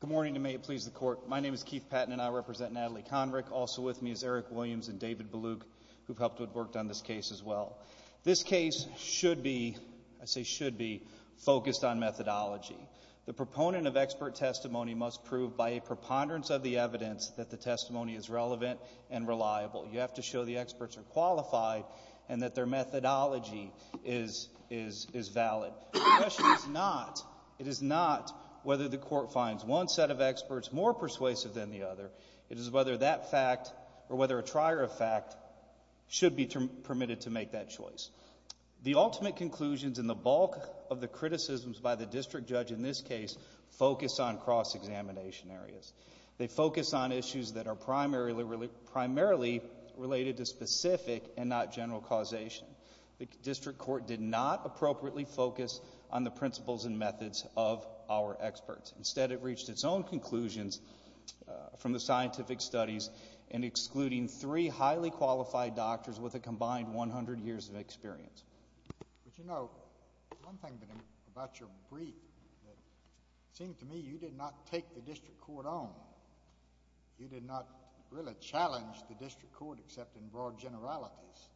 Good morning, and may it please the Court. My name is Keith Patton, and I represent Natalie Konrick. Also with me is Eric Williams and David Beluk, who have helped to have worked on this case as well. This case should be, I say should be, focused on methodology. The proponent of expert testimony must prove by a preponderance of the evidence that the testimony is relevant and reliable. You have to show the experts are qualified and that their methodology is valid. The question is not, it is not whether the Court finds one set of experts more persuasive than the other. It is whether that fact or whether a trier of fact should be permitted to make that choice. The ultimate conclusions and the bulk of the criticisms by the district judge in this case focus on cross-examination areas. They focus on issues that are primarily related to specific and not general causation. The district court did not appropriately focus on the principles and methods of our experts. Instead, it reached its own conclusions from the scientific studies in excluding three highly qualified doctors with a combined 100 years of experience. But you know, one thing about your brief that seemed to me you did not take the district court on. You did not really challenge the district court except in broad generalities.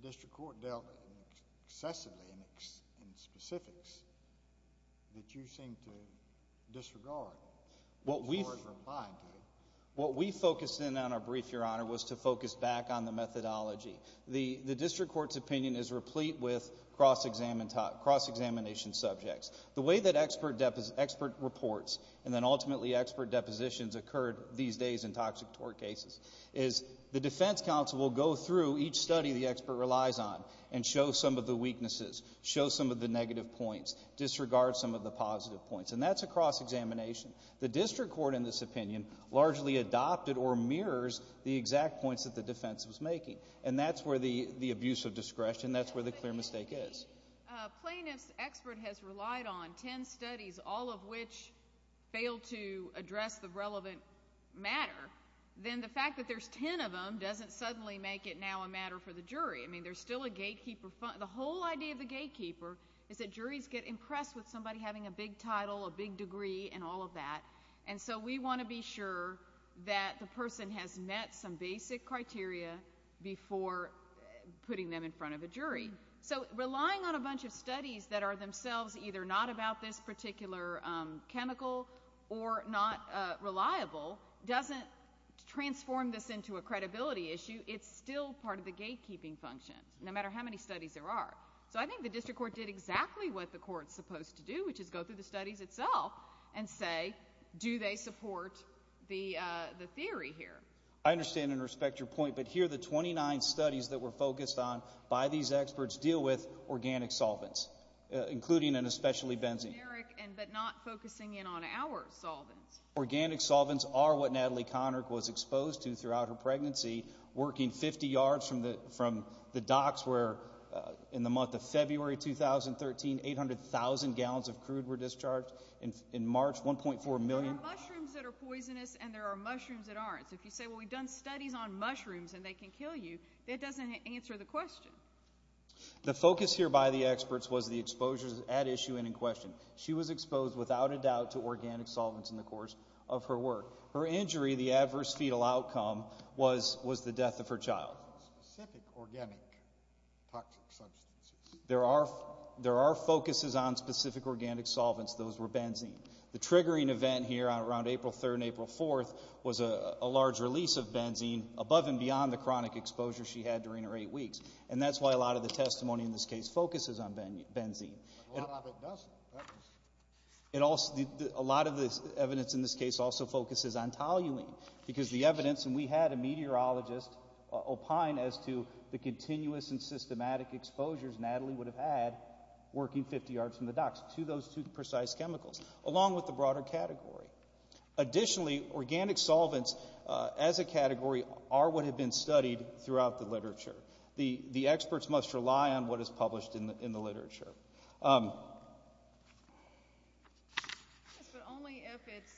The district court dealt excessively in specifics that you seem to disregard. What we focused in on our brief, Your Honor, was to focus back on the methodology. The district court's opinion is replete with cross-examination subjects. The way that expert reports and then ultimately expert depositions occurred these days in toxic tort cases is the defense counsel will go through each study the expert relies on and show some of the weaknesses, show some of the negative points, disregard some of the positive points, and that's a cross-examination. The district court in this opinion largely adopted or mirrors the exact points that the defense was making, and that's where the abuse of discretion, that's where the clear mistake is. If a plaintiff's expert has relied on 10 studies, all of which failed to address the relevant matter, then the fact that there's 10 of them doesn't suddenly make it now a matter for the jury. I mean, there's still a gatekeeper. The whole idea of the gatekeeper is that juries get impressed with somebody having a big title, a big degree, and all of that, and so we want to be sure that the person has met some basic criteria before putting them in front of a jury. So relying on a bunch of studies that are themselves either not about this particular chemical or not reliable doesn't transform this into a credibility issue. It's still part of the gatekeeping function, no matter how many studies there are. So I think the district court did exactly what the court's supposed to do, which is go through the studies itself and say, do they support the theory here? I understand and respect your point, but here the 29 studies that were focused on by these experts deal with organic solvents, including and especially benzene. But not focusing in on our solvents. Organic solvents are what Natalie Connick was exposed to throughout her pregnancy, working 50 yards from the docks where in the month of February 2013, 800,000 gallons of crude were discharged. In March, 1.4 million. There are mushrooms that are poisonous and there are mushrooms that aren't. So if you say, well, we've done studies on mushrooms and they can kill you, that doesn't answer the question. The focus here by the experts was the exposures at issue and in question. She was exposed without a doubt to organic solvents in the course of her work. Her injury, the adverse fetal outcome, was the death of her child. Specific organic toxic substances. There are focuses on specific organic solvents. Those were benzene. The triggering event here around April 3rd and April 4th was a large release of benzene, above and beyond the chronic exposure she had during her eight weeks. And that's why a lot of the testimony in this case focuses on benzene. A lot of it doesn't. A lot of the evidence in this case also focuses on toluene because the evidence, and we had a meteorologist opine as to the continuous and systematic exposures Natalie would have had working 50 yards from the docks to those two precise chemicals, along with the broader category. Additionally, organic solvents as a category are what have been studied throughout the literature. The experts must rely on what is published in the literature. Yes, but only if it's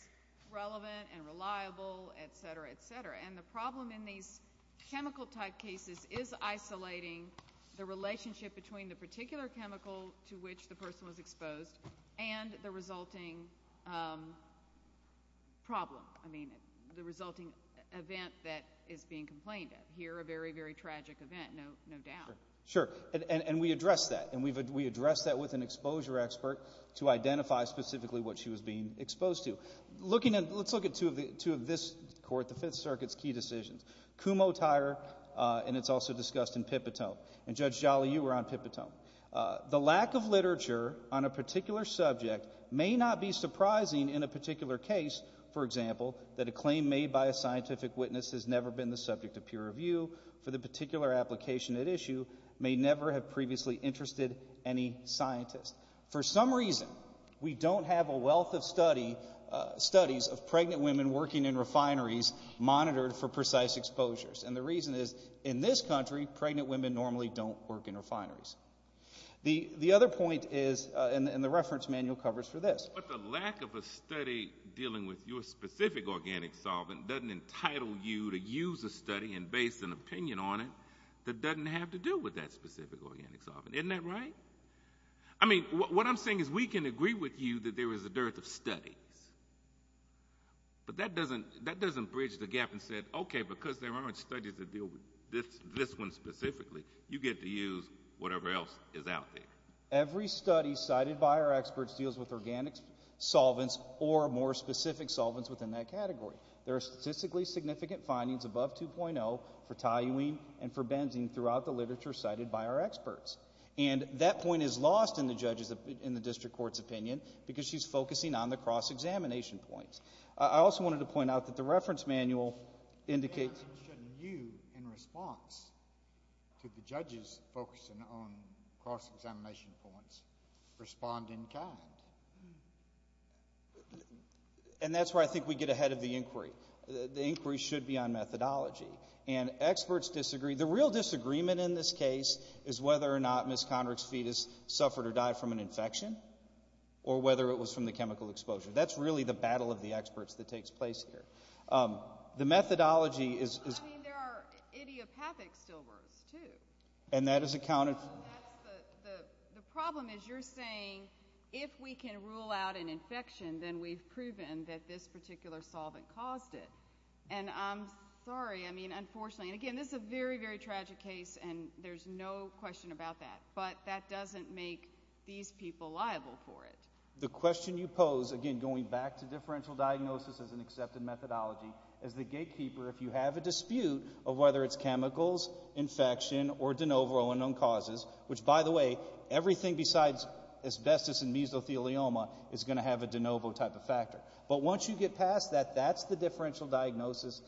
relevant and reliable, et cetera, et cetera. And the problem in these chemical type cases is isolating the relationship between the particular chemical to which the person was exposed and the resulting problem. I mean, the resulting event that is being complained of. Here, a very, very tragic event, no doubt. Sure. And we address that. And we address that with an exposure expert to identify specifically what she was being exposed to. Let's look at two of this court, the Fifth Circuit's key decisions. Kumho-Tyrer, and it's also discussed in Pipitone. And Judge Jolly, you were on Pipitone. The lack of literature on a particular subject may not be surprising in a particular case, for example, that a claim made by a scientific witness has never been the subject of peer review for the particular application at issue may never have previously interested any scientist. For some reason, we don't have a wealth of studies of pregnant women working in refineries monitored for precise exposures. And the reason is, in this country, pregnant women normally don't work in refineries. The other point is, and the reference manual covers for this. But the lack of a study dealing with your specific organic solvent doesn't entitle you to use a study and base an opinion on it that doesn't have to do with that specific organic solvent. Isn't that right? I mean, what I'm saying is we can agree with you that there is a dearth of studies. But that doesn't bridge the gap and say, okay, because there aren't studies that deal with this one specifically, you get to use whatever else is out there. Every study cited by our experts deals with organic solvents or more specific solvents within that category. There are statistically significant findings above 2.0 for toluene and for benzene throughout the literature cited by our experts. And that point is lost in the district court's opinion because she's focusing on the cross-examination points. I also wanted to point out that the reference manual indicates you in response to the judges focusing on cross-examination points respond in kind. And that's where I think we get ahead of the inquiry. The inquiry should be on methodology. And experts disagree. The real disagreement in this case is whether or not Ms. Conrick's fetus suffered or died from an infection or whether it was from the chemical exposure. That's really the battle of the experts that takes place here. The methodology is... I mean, there are idiopathic stillbirths, too. And that is accounted for... The problem is you're saying if we can rule out an infection, then we've proven that this particular solvent caused it. And I'm sorry. I mean, unfortunately. And, again, this is a very, very tragic case, and there's no question about that. But that doesn't make these people liable for it. The question you pose, again, going back to differential diagnosis as an accepted methodology, as the gatekeeper if you have a dispute of whether it's chemicals, infection, or de novo unknown causes, which, by the way, everything besides asbestos and mesothelioma is going to have a de novo type of factor. But once you get past that, that's the differential diagnosis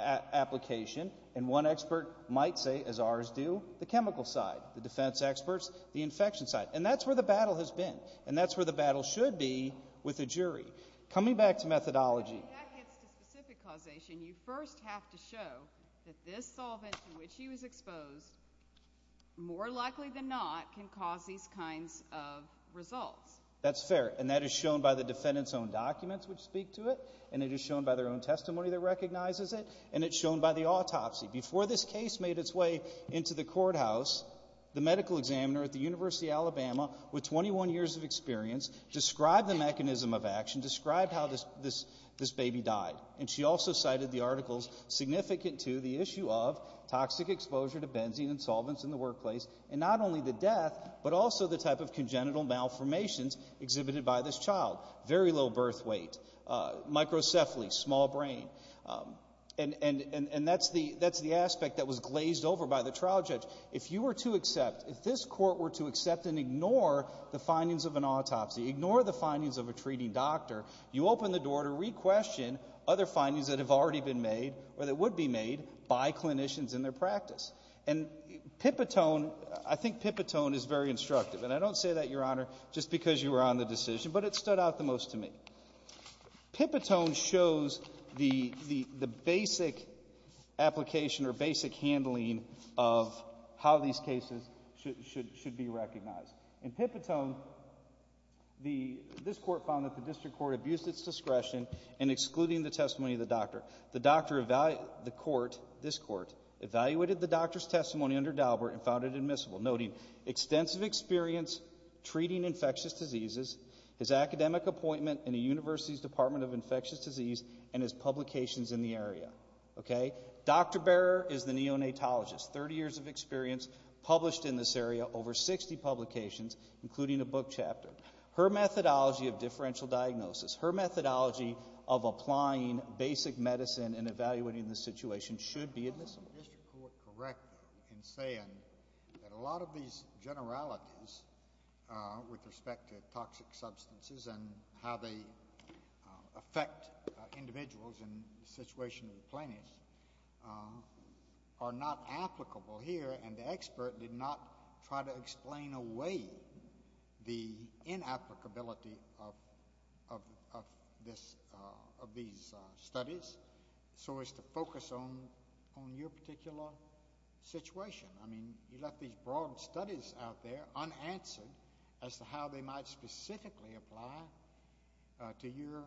application. And one expert might say, as ours do, the chemical side, the defense experts, the infection side. And that's where the battle has been, and that's where the battle should be with a jury. But coming back to methodology. When that gets to specific causation, you first have to show that this solvent to which he was exposed, more likely than not can cause these kinds of results. That's fair. And that is shown by the defendant's own documents which speak to it, and it is shown by their own testimony that recognizes it, and it's shown by the autopsy. Before this case made its way into the courthouse, the medical examiner at the University of Alabama, with 21 years of experience, described the mechanism of action, described how this baby died. And she also cited the articles significant to the issue of toxic exposure to benzene and solvents in the workplace, and not only the death, but also the type of congenital malformations exhibited by this child. Very low birth weight, microcephaly, small brain. And that's the aspect that was glazed over by the trial judge. If you were to accept, if this court were to accept and ignore the findings of an autopsy, ignore the findings of a treating doctor, you open the door to re-question other findings that have already been made or that would be made by clinicians in their practice. And Pipitone, I think Pipitone is very instructive, and I don't say that, Your Honor, just because you were on the decision, but it stood out the most to me. Pipitone shows the basic application or basic handling of how these cases should be recognized. In Pipitone, this court found that the district court abused its discretion in excluding the testimony of the doctor. The court, this court, evaluated the doctor's testimony under Daubert and found it admissible, noting extensive experience treating infectious diseases, his academic appointment in the University's Department of Infectious Disease, and his publications in the area. Okay? Dr. Barer is the neonatologist, 30 years of experience, published in this area, over 60 publications, including a book chapter. Her methodology of differential diagnosis, her methodology of applying basic medicine and evaluating the situation should be admissible. The district court is correct in saying that a lot of these generalities with respect to toxic substances and how they affect individuals in the situation of the plaintiffs are not applicable here, and the expert did not try to explain away the inapplicability of these studies, so as to focus on your particular situation. I mean, you left these broad studies out there unanswered as to how they might specifically apply to your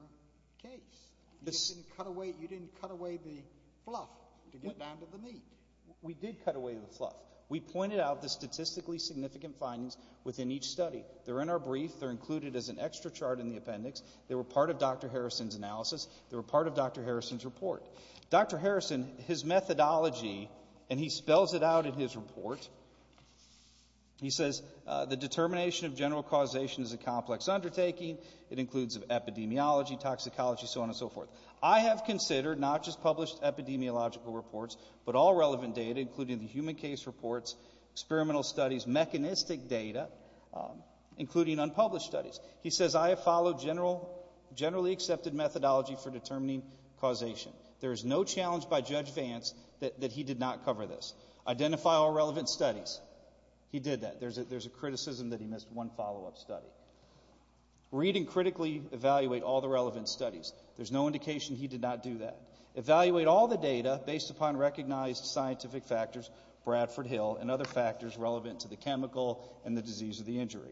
case. You didn't cut away the fluff to get down to the meat. We did cut away the fluff. We pointed out the statistically significant findings within each study. They're in our brief. They're included as an extra chart in the appendix. They were part of Dr. Harrison's analysis. They were part of Dr. Harrison's report. Dr. Harrison, his methodology, and he spells it out in his report. He says the determination of general causation is a complex undertaking. It includes epidemiology, toxicology, so on and so forth. I have considered not just published epidemiological reports, but all relevant data, including the human case reports, experimental studies, mechanistic data, including unpublished studies. He says I have followed generally accepted methodology for determining causation. There is no challenge by Judge Vance that he did not cover this. Identify all relevant studies. He did that. There's a criticism that he missed one follow-up study. Read and critically evaluate all the relevant studies. There's no indication he did not do that. Evaluate all the data based upon recognized scientific factors, Bradford Hill, and other factors relevant to the chemical and the disease of the injury.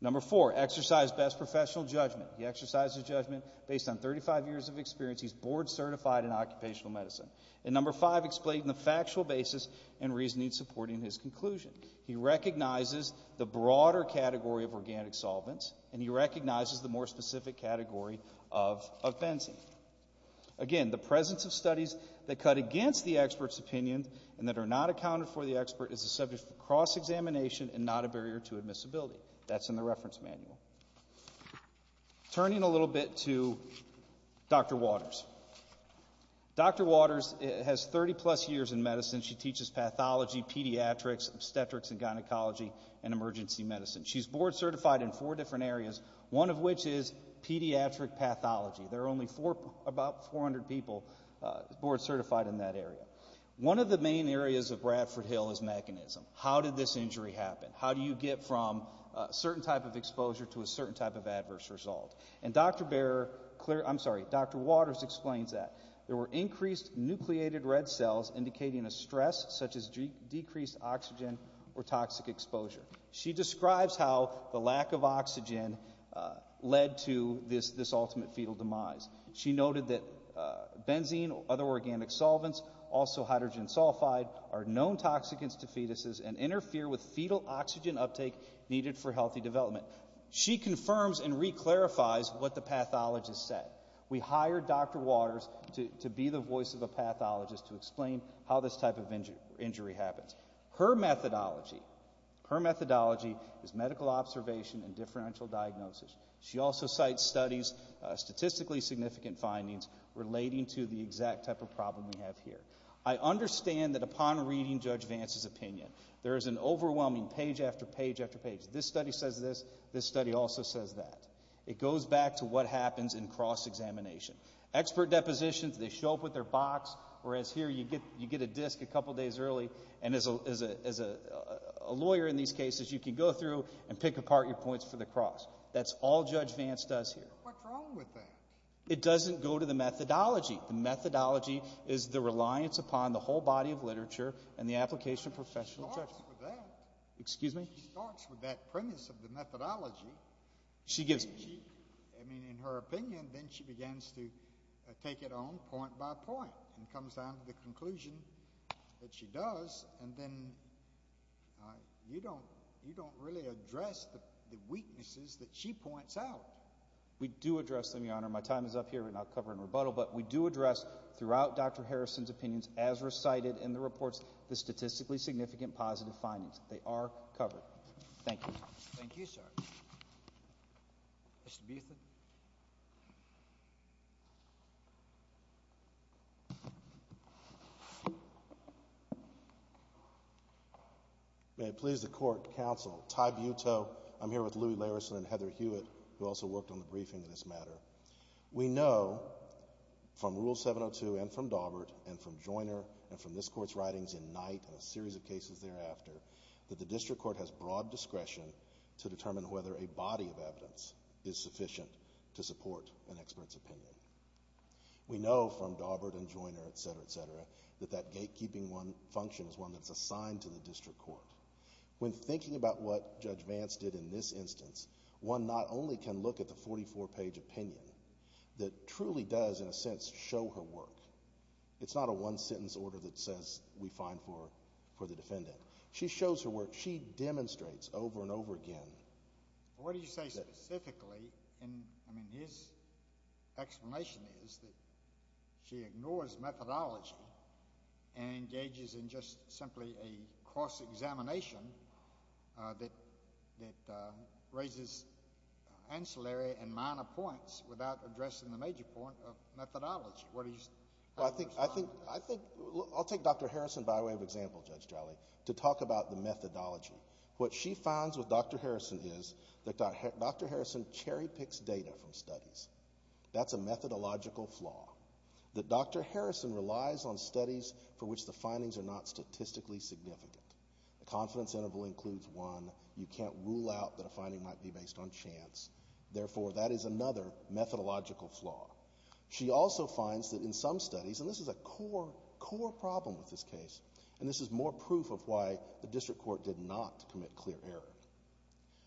Number four, exercise best professional judgment. He exercises judgment based on 35 years of experience. He's board certified in occupational medicine. And number five, explain the factual basis and reasoning supporting his conclusion. He recognizes the broader category of organic solvents, and he recognizes the more specific category of benzene. Again, the presence of studies that cut against the expert's opinion and that are not accounted for the expert is a subject for cross-examination and not a barrier to admissibility. That's in the reference manual. Turning a little bit to Dr. Waters. Dr. Waters has 30-plus years in medicine. She teaches pathology, pediatrics, obstetrics and gynecology, and emergency medicine. She's board certified in four different areas, one of which is pediatric pathology. There are only about 400 people board certified in that area. One of the main areas of Bradford Hill is mechanism. How did this injury happen? How do you get from a certain type of exposure to a certain type of adverse result? And Dr. Waters explains that. There were increased nucleated red cells indicating a stress, such as decreased oxygen or toxic exposure. She describes how the lack of oxygen led to this ultimate fetal demise. She noted that benzene, other organic solvents, also hydrogen sulfide, are known toxicants to fetuses and interfere with fetal oxygen uptake needed for healthy development. She confirms and reclarifies what the pathologist said. We hired Dr. Waters to be the voice of the pathologist to explain how this type of injury happens. Her methodology is medical observation and differential diagnosis. She also cites studies, statistically significant findings, relating to the exact type of problem we have here. I understand that upon reading Judge Vance's opinion, there is an overwhelming page after page after page. This study says this, this study also says that. It goes back to what happens in cross-examination. Expert depositions, they show up with their box, whereas here you get a disk a couple days early, and as a lawyer in these cases, you can go through and pick apart your points for the cross. That's all Judge Vance does here. What's wrong with that? It doesn't go to the methodology. The methodology is the reliance upon the whole body of literature and the application of professional judgment. She starts with that premise of the methodology. I mean, in her opinion, then she begins to take it on point by point and comes down to the conclusion that she does, and then you don't really address the weaknesses that she points out. We do address them, Your Honor. My time is up here, and I'll cover in rebuttal, but we do address throughout Dr. Harrison's opinions, as recited in the reports, the statistically significant positive findings. They are covered. Thank you. Thank you, sir. Mr. Beuthin. May it please the Court, Counsel. Ty Butow. I'm here with Louie Larison and Heather Hewitt, who also worked on the briefing in this matter. We know from Rule 702 and from Daubert and from Joiner and from this Court's writings in Knight and a series of cases thereafter that the district court has broad discretion to determine whether a body of evidence is sufficient to support an expert's opinion. We know from Daubert and Joiner, et cetera, et cetera, that that gatekeeping function is one that's assigned to the district court. When thinking about what Judge Vance did in this instance, one not only can look at the 44-page opinion that truly does, in a sense, show her work. It's not a one-sentence order that says we're fine for the defendant. She shows her work. She demonstrates over and over again. What do you say specifically? I mean, his explanation is that she ignores methodology and engages in just simply a cross-examination that raises ancillary and minor points without addressing the major point of methodology. I think I'll take Dr. Harrison by way of example, Judge Jolly, to talk about the methodology. What she finds with Dr. Harrison is that Dr. Harrison cherry-picks data from studies. That's a methodological flaw, that Dr. Harrison relies on studies for which the findings are not statistically significant. The confidence interval includes one. You can't rule out that a finding might be based on chance. Therefore, that is another methodological flaw. She also finds that in some studies, and this is a core problem with this case, and this is more proof of why the district court did not commit clear error,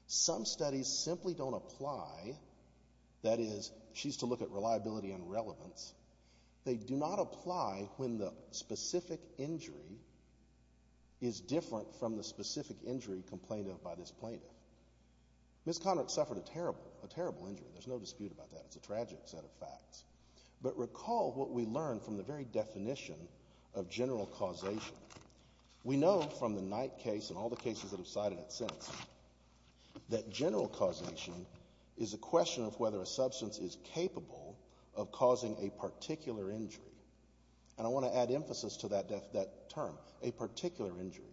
some studies simply don't apply. That is, she used to look at reliability and relevance. They do not apply when the specific injury is different from the specific injury complained of by this plaintiff. Ms. Conrad suffered a terrible, a terrible injury. There's no dispute about that. It's a tragic set of facts. But recall what we learned from the very definition of general causation. We know from the Knight case and all the cases that have cited it since that general causation is a question of whether a substance is capable of causing a particular injury. And I want to add emphasis to that term, a particular injury.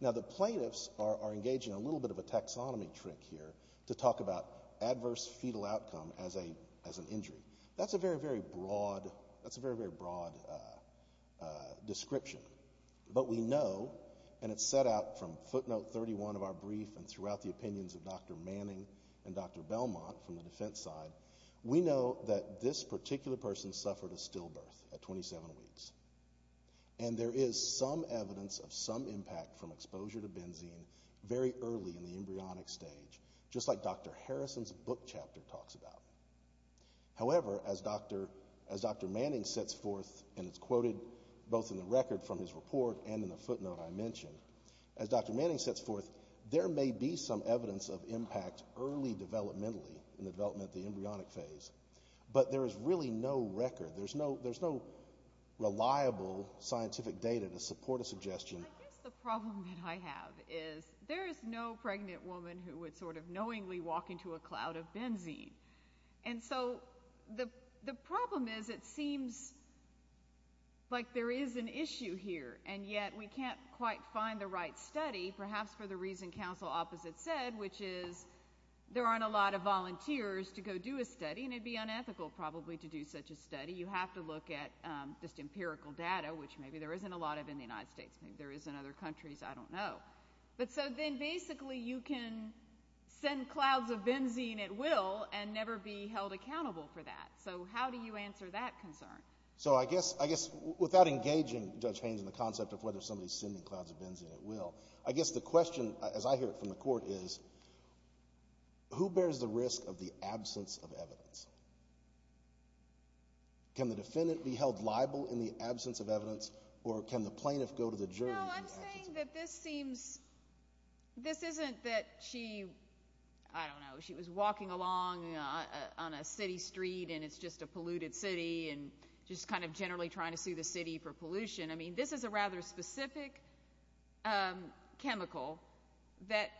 Now, the plaintiffs are engaging a little bit of a taxonomy trick here to talk about adverse fetal outcome as an injury. That's a very, very broad description. But we know, and it's set out from footnote 31 of our brief and throughout the opinions of Dr. Manning and Dr. Belmont from the defense side, we know that this particular person suffered a stillbirth at 27 weeks. And there is some evidence of some impact from exposure to benzene very early in the embryonic stage, just like Dr. Harrison's book chapter talks about. However, as Dr. Manning sets forth, and it's quoted both in the record from his report and in the footnote I mentioned, as Dr. Manning sets forth, there may be some evidence of impact early developmentally in the development of the embryonic phase, but there is really no record. There's no reliable scientific data to support a suggestion. Well, I guess the problem that I have is there is no pregnant woman who would sort of knowingly walk into a cloud of benzene. And so the problem is it seems like there is an issue here, and yet we can't quite find the right study, perhaps for the reason counsel opposite said, which is there aren't a lot of volunteers to go do a study, and it would be unethical probably to do such a study. You have to look at just empirical data, which maybe there isn't a lot of in the United States. Maybe there is in other countries. I don't know. But so then basically you can send clouds of benzene at will and never be held accountable for that. So how do you answer that concern? So I guess without engaging Judge Haynes in the concept of whether somebody is sending clouds of benzene at will, I guess the question, as I hear it from the court, is who bears the risk of the absence of evidence? Can the defendant be held liable in the absence of evidence, or can the plaintiff go to the jury? No, I'm saying that this seems this isn't that she, I don't know, she was walking along on a city street and it's just a polluted city and just kind of generally trying to sue the city for pollution. I mean, this is a rather specific chemical that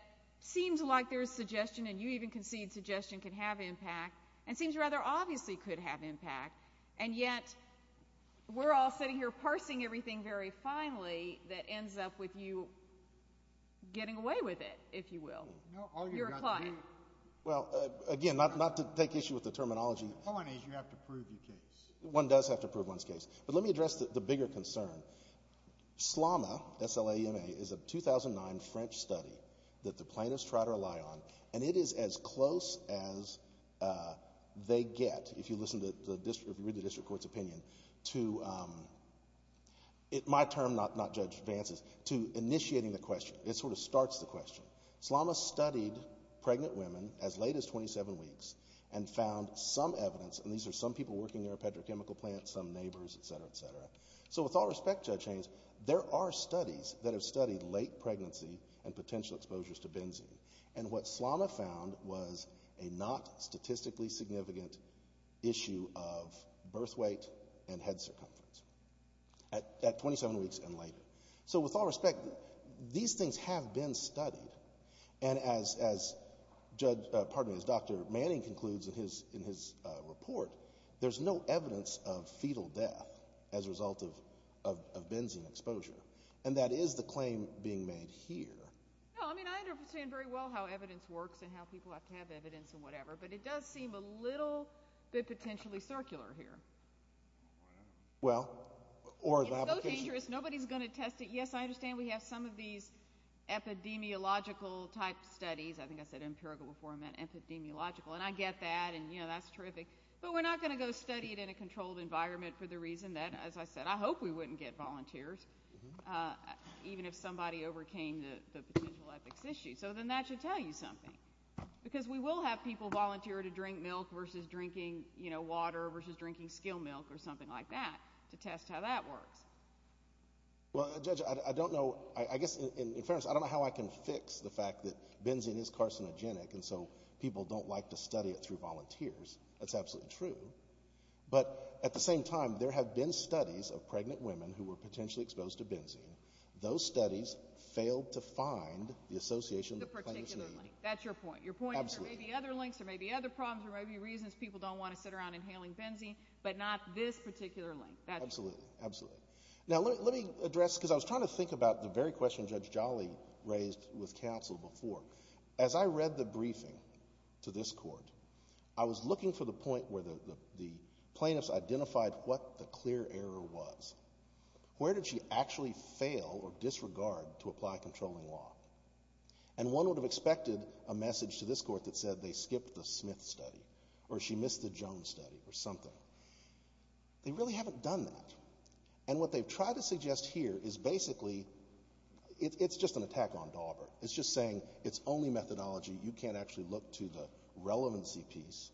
seems like there is suggestion, and you even concede suggestion can have impact and seems rather obviously could have impact, and yet we're all sitting here parsing everything very finely that ends up with you getting away with it, if you will. You're a client. Well, again, not to take issue with the terminology. The point is you have to prove your case. One does have to prove one's case. But let me address the bigger concern. SLAMA, S-L-A-M-A, is a 2009 French study that the plaintiffs try to rely on, and it is as close as they get, if you listen to the district, if you read the district court's opinion, to my term, not Judge Vance's, to initiating the question. It sort of starts the question. SLAMA studied pregnant women as late as 27 weeks and found some evidence, and these are some people working in a petrochemical plant, some neighbors, et cetera, et cetera. So with all respect, Judge Haynes, there are studies that have studied late pregnancy and potential exposures to benzene, and what SLAMA found was a not statistically significant issue of birth weight and head circumference at 27 weeks and later. So with all respect, these things have been studied, and as Dr. Manning concludes in his report, there's no evidence of fetal death as a result of benzene exposure, and that is the claim being made here. No, I mean, I understand very well how evidence works and how people have to have evidence and whatever, but it does seem a little bit potentially circular here. Well, or the application. It's so dangerous, nobody's going to test it. Yes, I understand we have some of these epidemiological-type studies. I think I said empirical before I meant epidemiological, and I get that, and, you know, that's terrific, but we're not going to go study it in a controlled environment for the reason that, as I said, I hope we wouldn't get volunteers even if somebody overcame the potential epics issue. So then that should tell you something, because we will have people volunteer to drink milk versus drinking, you know, water versus drinking skill milk or something like that to test how that works. Well, Judge, I don't know. I guess in fairness, I don't know how I can fix the fact that benzene is carcinogenic, and so people don't like to study it through volunteers. That's absolutely true. But at the same time, there have been studies of pregnant women who were potentially exposed to benzene. Those studies failed to find the association that plaintiffs need. The particular link. That's your point. Your point is there may be other links, there may be other problems, there may be reasons people don't want to sit around inhaling benzene, but not this particular link. Absolutely, absolutely. Now, let me address, because I was trying to think about the very question Judge Jolly raised with counsel before. As I read the briefing to this Court, I was looking for the point where the plaintiffs identified what the clear error was. Where did she actually fail or disregard to apply controlling law? And one would have expected a message to this Court that said they skipped the Smith study or she missed the Jones study or something. They really haven't done that. And what they've tried to suggest here is basically it's just an attack on Daubert. It's just saying it's only methodology, you can't actually look to the relevancy piece,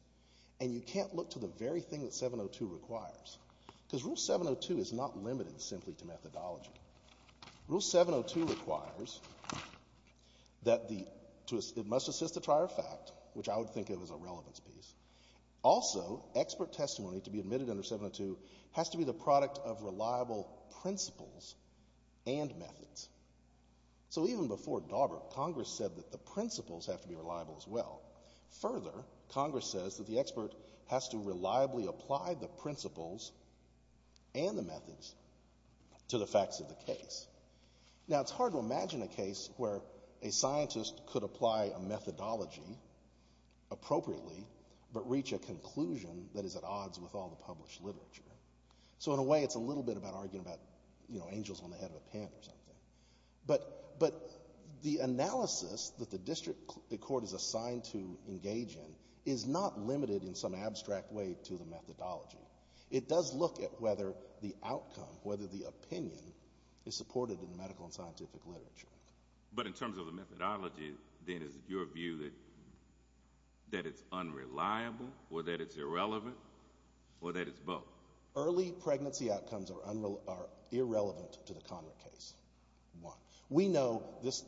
and you can't look to the very thing that 702 requires. Because Rule 702 is not limited simply to methodology. Rule 702 requires that it must assist the trier of fact, which I would think of as a relevance piece. Also, expert testimony to be admitted under 702 has to be the product of reliable principles and methods. So even before Daubert, Congress said that the principles have to be reliable as well. Further, Congress says that the expert has to reliably apply the principles and the methods to the facts of the case. Now, it's hard to imagine a case where a scientist could apply a methodology appropriately but reach a conclusion that is at odds with all the published literature. So in a way, it's a little bit about arguing about angels on the head of a pen or something. But the analysis that the court is assigned to engage in is not limited in some abstract way to the methodology. It does look at whether the outcome, whether the opinion, is supported in the medical and scientific literature. But in terms of the methodology, then, is it your view that it's unreliable or that it's irrelevant or that it's both? Early pregnancy outcomes are irrelevant to the Conric case. We know this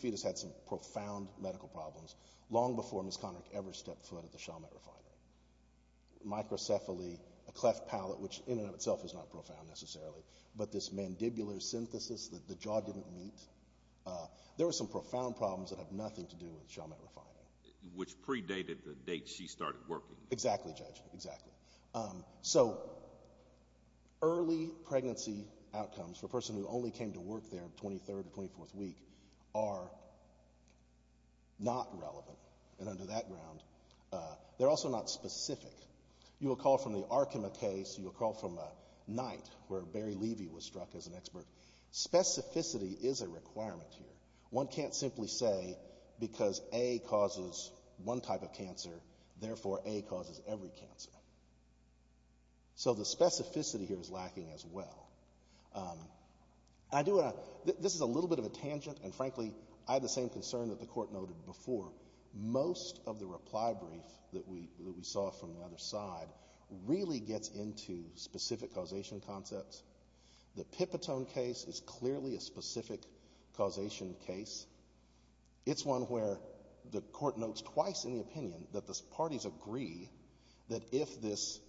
fetus had some profound medical problems long before Ms. Conric ever stepped foot at the Chalmette Refinery. Microcephaly, a cleft palate, which in and of itself is not profound necessarily, but this mandibular synthesis that the jaw didn't meet, there were some profound problems that have nothing to do with Chalmette Refinery. Which predated the date she started working. Exactly, Judge, exactly. So early pregnancy outcomes for a person who only came to work there 23rd or 24th week are not relevant. And under that ground, they're also not specific. You'll recall from the Arkema case, you'll recall from Knight, where Barry Levy was struck as an expert, specificity is a requirement here. One can't simply say because A causes one type of cancer, therefore A causes every cancer. So the specificity here is lacking as well. This is a little bit of a tangent, and frankly, I have the same concern that the Court noted before. Most of the reply brief that we saw from the other side really gets into specific causation concepts. The Pipitone case is clearly a specific causation case. It's one where the Court notes twice in the opinion that the parties agree that if this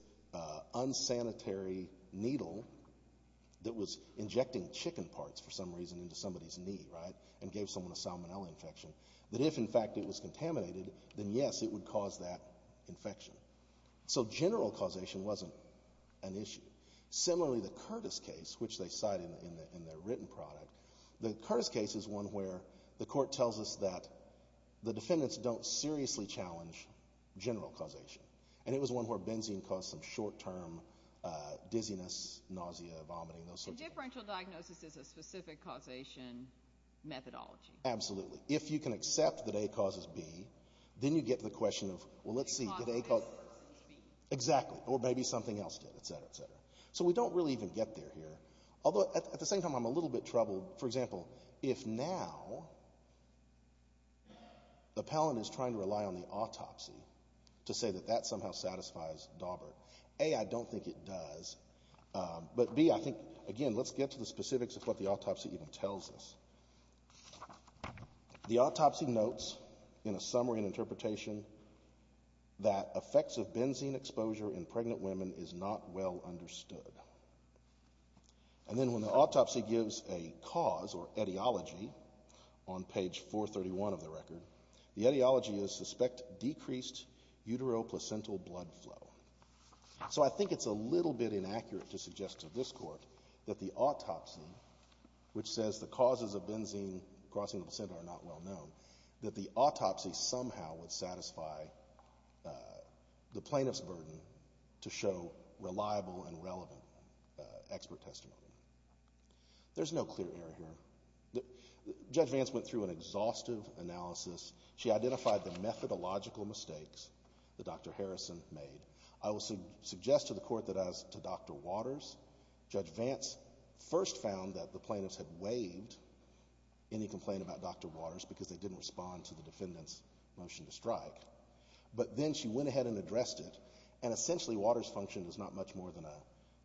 unsanitary needle that was injecting chicken parts for some reason into somebody's knee, right, and gave someone a salmonella infection, that if, in fact, it was contaminated, then yes, it would cause that infection. So general causation wasn't an issue. Similarly, the Curtis case, which they cite in their written product, the Curtis case is one where the Court tells us that the defendants don't seriously challenge general causation, and it was one where benzene caused some short-term dizziness, nausea, vomiting, those sorts of things. So the differential diagnosis is a specific causation methodology. Absolutely. If you can accept that A causes B, then you get to the question of, well, let's see, did A cause B? Exactly, or maybe something else did, et cetera, et cetera. So we don't really even get there here, although at the same time I'm a little bit troubled. For example, if now the appellant is trying to rely on the autopsy to say that that somehow satisfies Daubert, A, I don't think it does. But B, I think, again, let's get to the specifics of what the autopsy even tells us. The autopsy notes in a summary and interpretation that effects of benzene exposure in pregnant women is not well understood. And then when the autopsy gives a cause or etiology on page 431 of the record, the etiology is suspect decreased utero-placental blood flow. So I think it's a little bit inaccurate to suggest to this Court that the autopsy, which says the causes of benzene crossing the placenta are not well known, that the autopsy somehow would satisfy the plaintiff's burden to show reliable and relevant expert testimony. There's no clear error here. Judge Vance went through an exhaustive analysis. She identified the methodological mistakes that Dr. Harrison made. I will suggest to the Court that as to Dr. Waters, Judge Vance first found that the plaintiffs had waived any complaint about Dr. Waters because they didn't respond to the defendant's motion to strike. But then she went ahead and addressed it, and essentially Waters' function is not much more than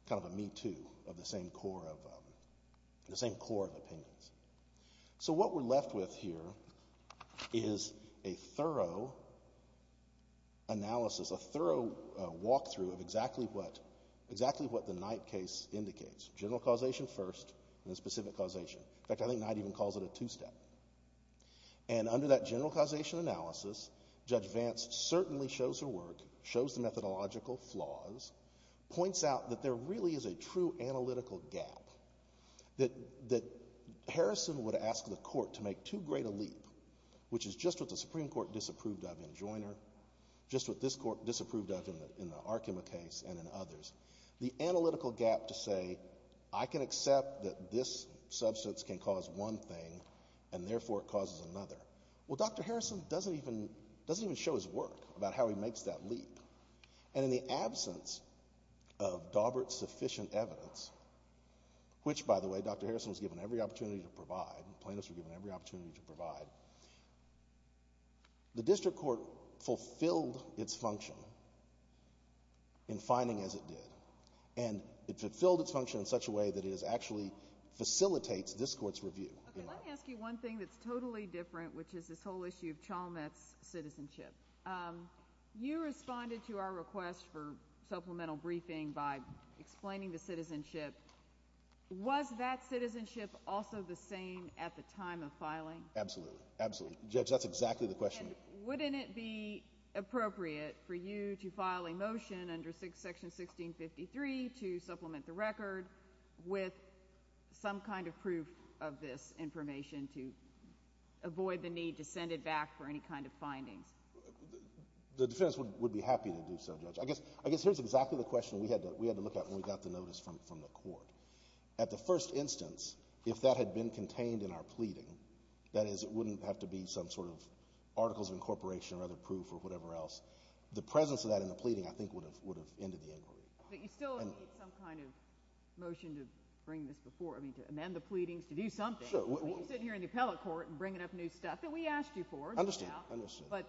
kind of a me-too of the same core of opinions. So what we're left with here is a thorough analysis, a thorough walkthrough of exactly what the Knight case indicates, general causation first and then specific causation. In fact, I think Knight even calls it a two-step. And under that general causation analysis, Judge Vance certainly shows her work, shows the methodological flaws, points out that there really is a true analytical gap that Harrison would ask the Court to make too great a leap, which is just what the Supreme Court disapproved of in Joyner, just what this Court disapproved of in the Arkema case and in others. The analytical gap to say, I can accept that this substance can cause one thing and therefore it causes another. Well, Dr. Harrison doesn't even show his work about how he makes that leap. And in the absence of Dawbert's sufficient evidence, which, by the way, Dr. Harrison was given every opportunity to provide, plaintiffs were given every opportunity to provide, the District Court fulfilled its function in finding as it did. And it fulfilled its function in such a way that it actually facilitates this Court's review. Let me ask you one thing that's totally different, which is this whole issue of Chalmette's citizenship. You responded to our request for supplemental briefing by explaining the citizenship. Was that citizenship also the same at the time of filing? Absolutely. Absolutely. Judge, that's exactly the question. Wouldn't it be appropriate for you to file a motion under Section 1653 to supplement the record with some kind of proof of this information to avoid the need to send it back for any kind of findings? The defense would be happy to do so, Judge. I guess here's exactly the question we had to look at when we got the notice from the Court. At the first instance, if that had been contained in our pleading, that is, it wouldn't have to be some sort of articles of incorporation or other proof or whatever else. The presence of that in the pleading, I think, would have ended the inquiry. But you still need some kind of motion to amend the pleadings, to do something. You're sitting here in the appellate court and bringing up new stuff that we asked you for. But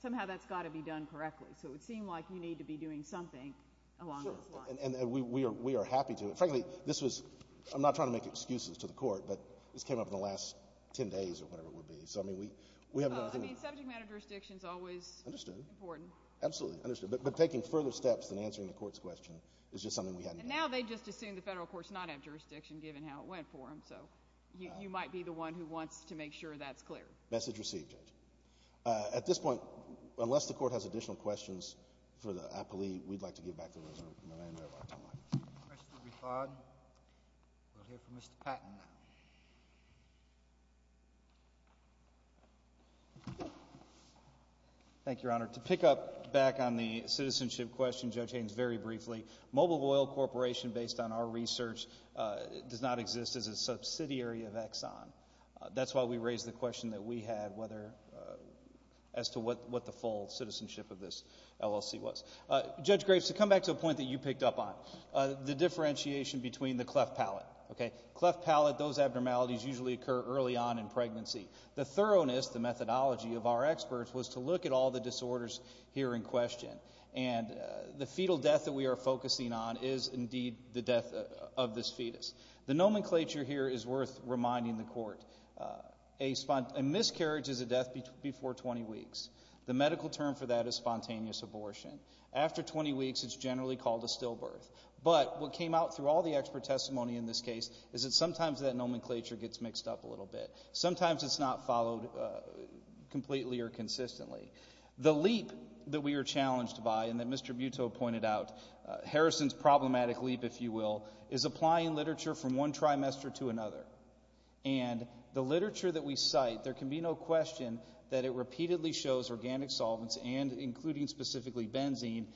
somehow that's got to be done correctly. So it would seem like you need to be doing something along those lines. We are happy to. Frankly, I'm not trying to make excuses to the Court, but this came up in the last 10 days or whatever it would be. Subject matter jurisdiction is always important. Absolutely. But taking further steps than answering the Court's question is just something we hadn't done. But now they just assume the federal courts not have jurisdiction, given how it went for them. So you might be the one who wants to make sure that's clear. Message received, Judge. At this point, unless the Court has additional questions for the appellee, we'd like to give back the reserve. Mr. Bifad, we'll hear from Mr. Patton now. Thank you, Your Honor. To pick up back on the citizenship question, Judge Haynes, very briefly, Mobile Oil Corporation, based on our research, does not exist as a subsidiary of Exxon. That's why we raised the question that we had as to what the full citizenship of this LLC was. Judge Graves, to come back to a point that you picked up on, the differentiation between the cleft palate. Cleft palate, those abnormalities usually occur early on in pregnancy. The thoroughness, the methodology of our experts was to look at all the disorders here in question. And the fetal death that we are focusing on is, indeed, the death of this fetus. The nomenclature here is worth reminding the Court. A miscarriage is a death before 20 weeks. The medical term for that is spontaneous abortion. After 20 weeks, it's generally called a stillbirth. But what came out through all the expert testimony in this case is that sometimes that nomenclature gets mixed up a little bit. Sometimes it's not followed completely or consistently. The leap that we were challenged by and that Mr. Butto pointed out, Harrison's problematic leap, if you will, is applying literature from one trimester to another. And the literature that we cite, there can be no question that it repeatedly shows organic solvents and including specifically benzene,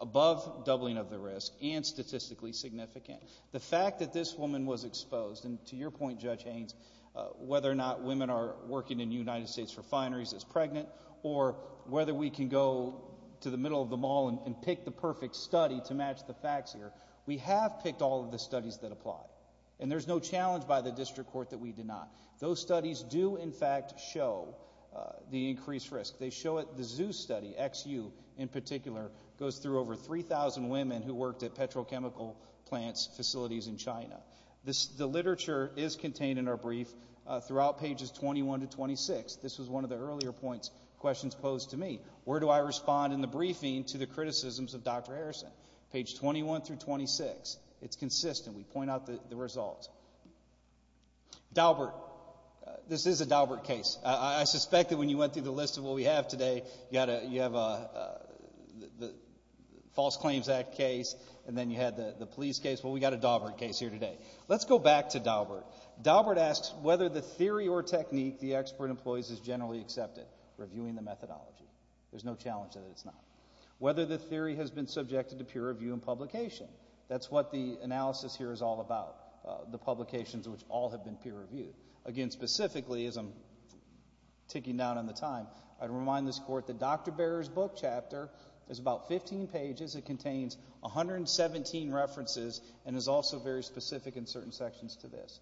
above doubling of the risk and statistically significant. The fact that this woman was exposed, and to your point, Judge Haynes, whether or not women are working in United States refineries as pregnant or whether we can go to the middle of the mall and pick the perfect study to match the facts here, we have picked all of the studies that apply. And there's no challenge by the district court that we did not. Those studies do, in fact, show the increased risk. They show it. The ZOO study, XU in particular, goes through over 3,000 women who worked at petrochemical plants facilities in China. The literature is contained in our brief throughout pages 21 to 26. This was one of the earlier questions posed to me. Where do I respond in the briefing to the criticisms of Dr. Harrison? Page 21 through 26. It's consistent. We point out the results. Daubert. This is a Daubert case. I suspect that when you went through the list of what we have today, you have a False Claims Act case, and then you had the police case. Well, we've got a Daubert case here today. Let's go back to Daubert. Daubert asks whether the theory or technique the expert employs is generally accepted, reviewing the methodology. There's no challenge that it's not. Whether the theory has been subjected to peer review and publication. That's what the analysis here is all about, the publications which all have been peer reviewed. Again, specifically, as I'm ticking down on the time, I'd remind this Court that Dr. Barrett's book chapter is about 15 pages. It contains 117 references and is also very specific in certain sections to this.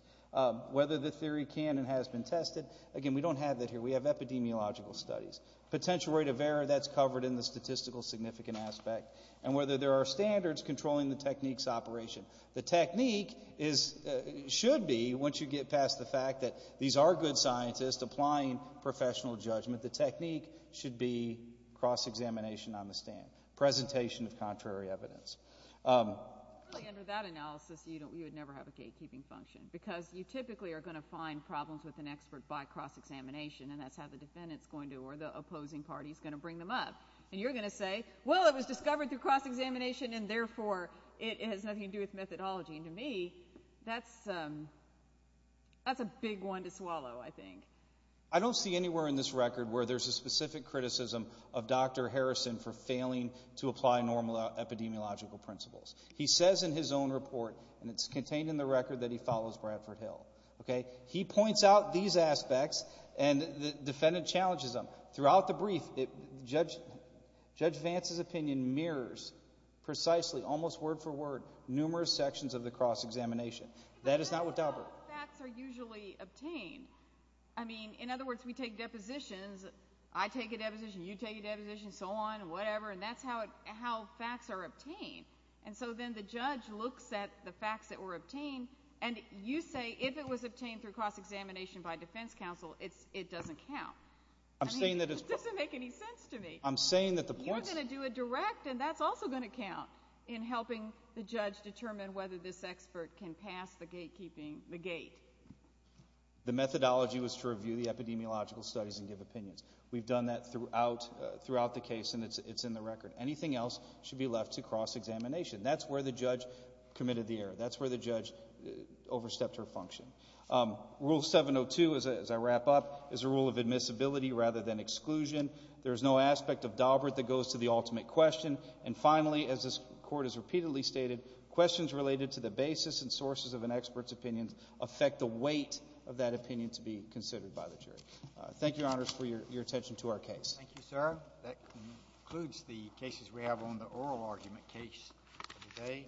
Whether the theory can and has been tested, again, we don't have that here. We have epidemiological studies. Potential rate of error, that's covered in the statistical significant aspect. And whether there are standards controlling the technique's operation. The technique should be, once you get past the fact that these are good scientists applying professional judgment, the technique should be cross-examination on the stand. Presentation of contrary evidence. Under that analysis, you would never have a gatekeeping function. Because you typically are going to find problems with an expert by cross-examination, and that's how the defendant's going to, or the opposing party's going to bring them up. And you're going to say, well, it was discovered through cross-examination, and therefore it has nothing to do with methodology. And to me, that's a big one to swallow, I think. I don't see anywhere in this record where there's a specific criticism of Dr. Harrison for failing to apply normal epidemiological principles. He says in his own report, and it's contained in the record, that he follows Bradford Hill. He points out these aspects, and the defendant challenges him. Throughout the brief, Judge Vance's opinion mirrors precisely, almost word for word, numerous sections of the cross-examination. That is not what's out there. That's how facts are usually obtained. I mean, in other words, we take depositions. I take a deposition, you take a deposition, so on, whatever, and that's how facts are obtained. And so then the judge looks at the facts that were obtained, and you say if it was obtained through cross-examination by defense counsel, it doesn't count. It doesn't make any sense to me. You're going to do a direct, and that's also going to count, in helping the judge determine whether this expert can pass the gatekeeping, the gate. The methodology was to review the epidemiological studies and give opinions. We've done that throughout the case, and it's in the record. Anything else should be left to cross-examination. That's where the judge committed the error. That's where the judge overstepped her function. Rule 702, as I wrap up, is a rule of admissibility rather than exclusion. There is no aspect of Daubert that goes to the ultimate question. And finally, as this Court has repeatedly stated, questions related to the basis and sources of an expert's opinions affect the weight of that opinion to be considered by the jury. Thank you, Your Honors, for your attention to our case. Thank you, sir. That concludes the cases we have on the oral argument case today.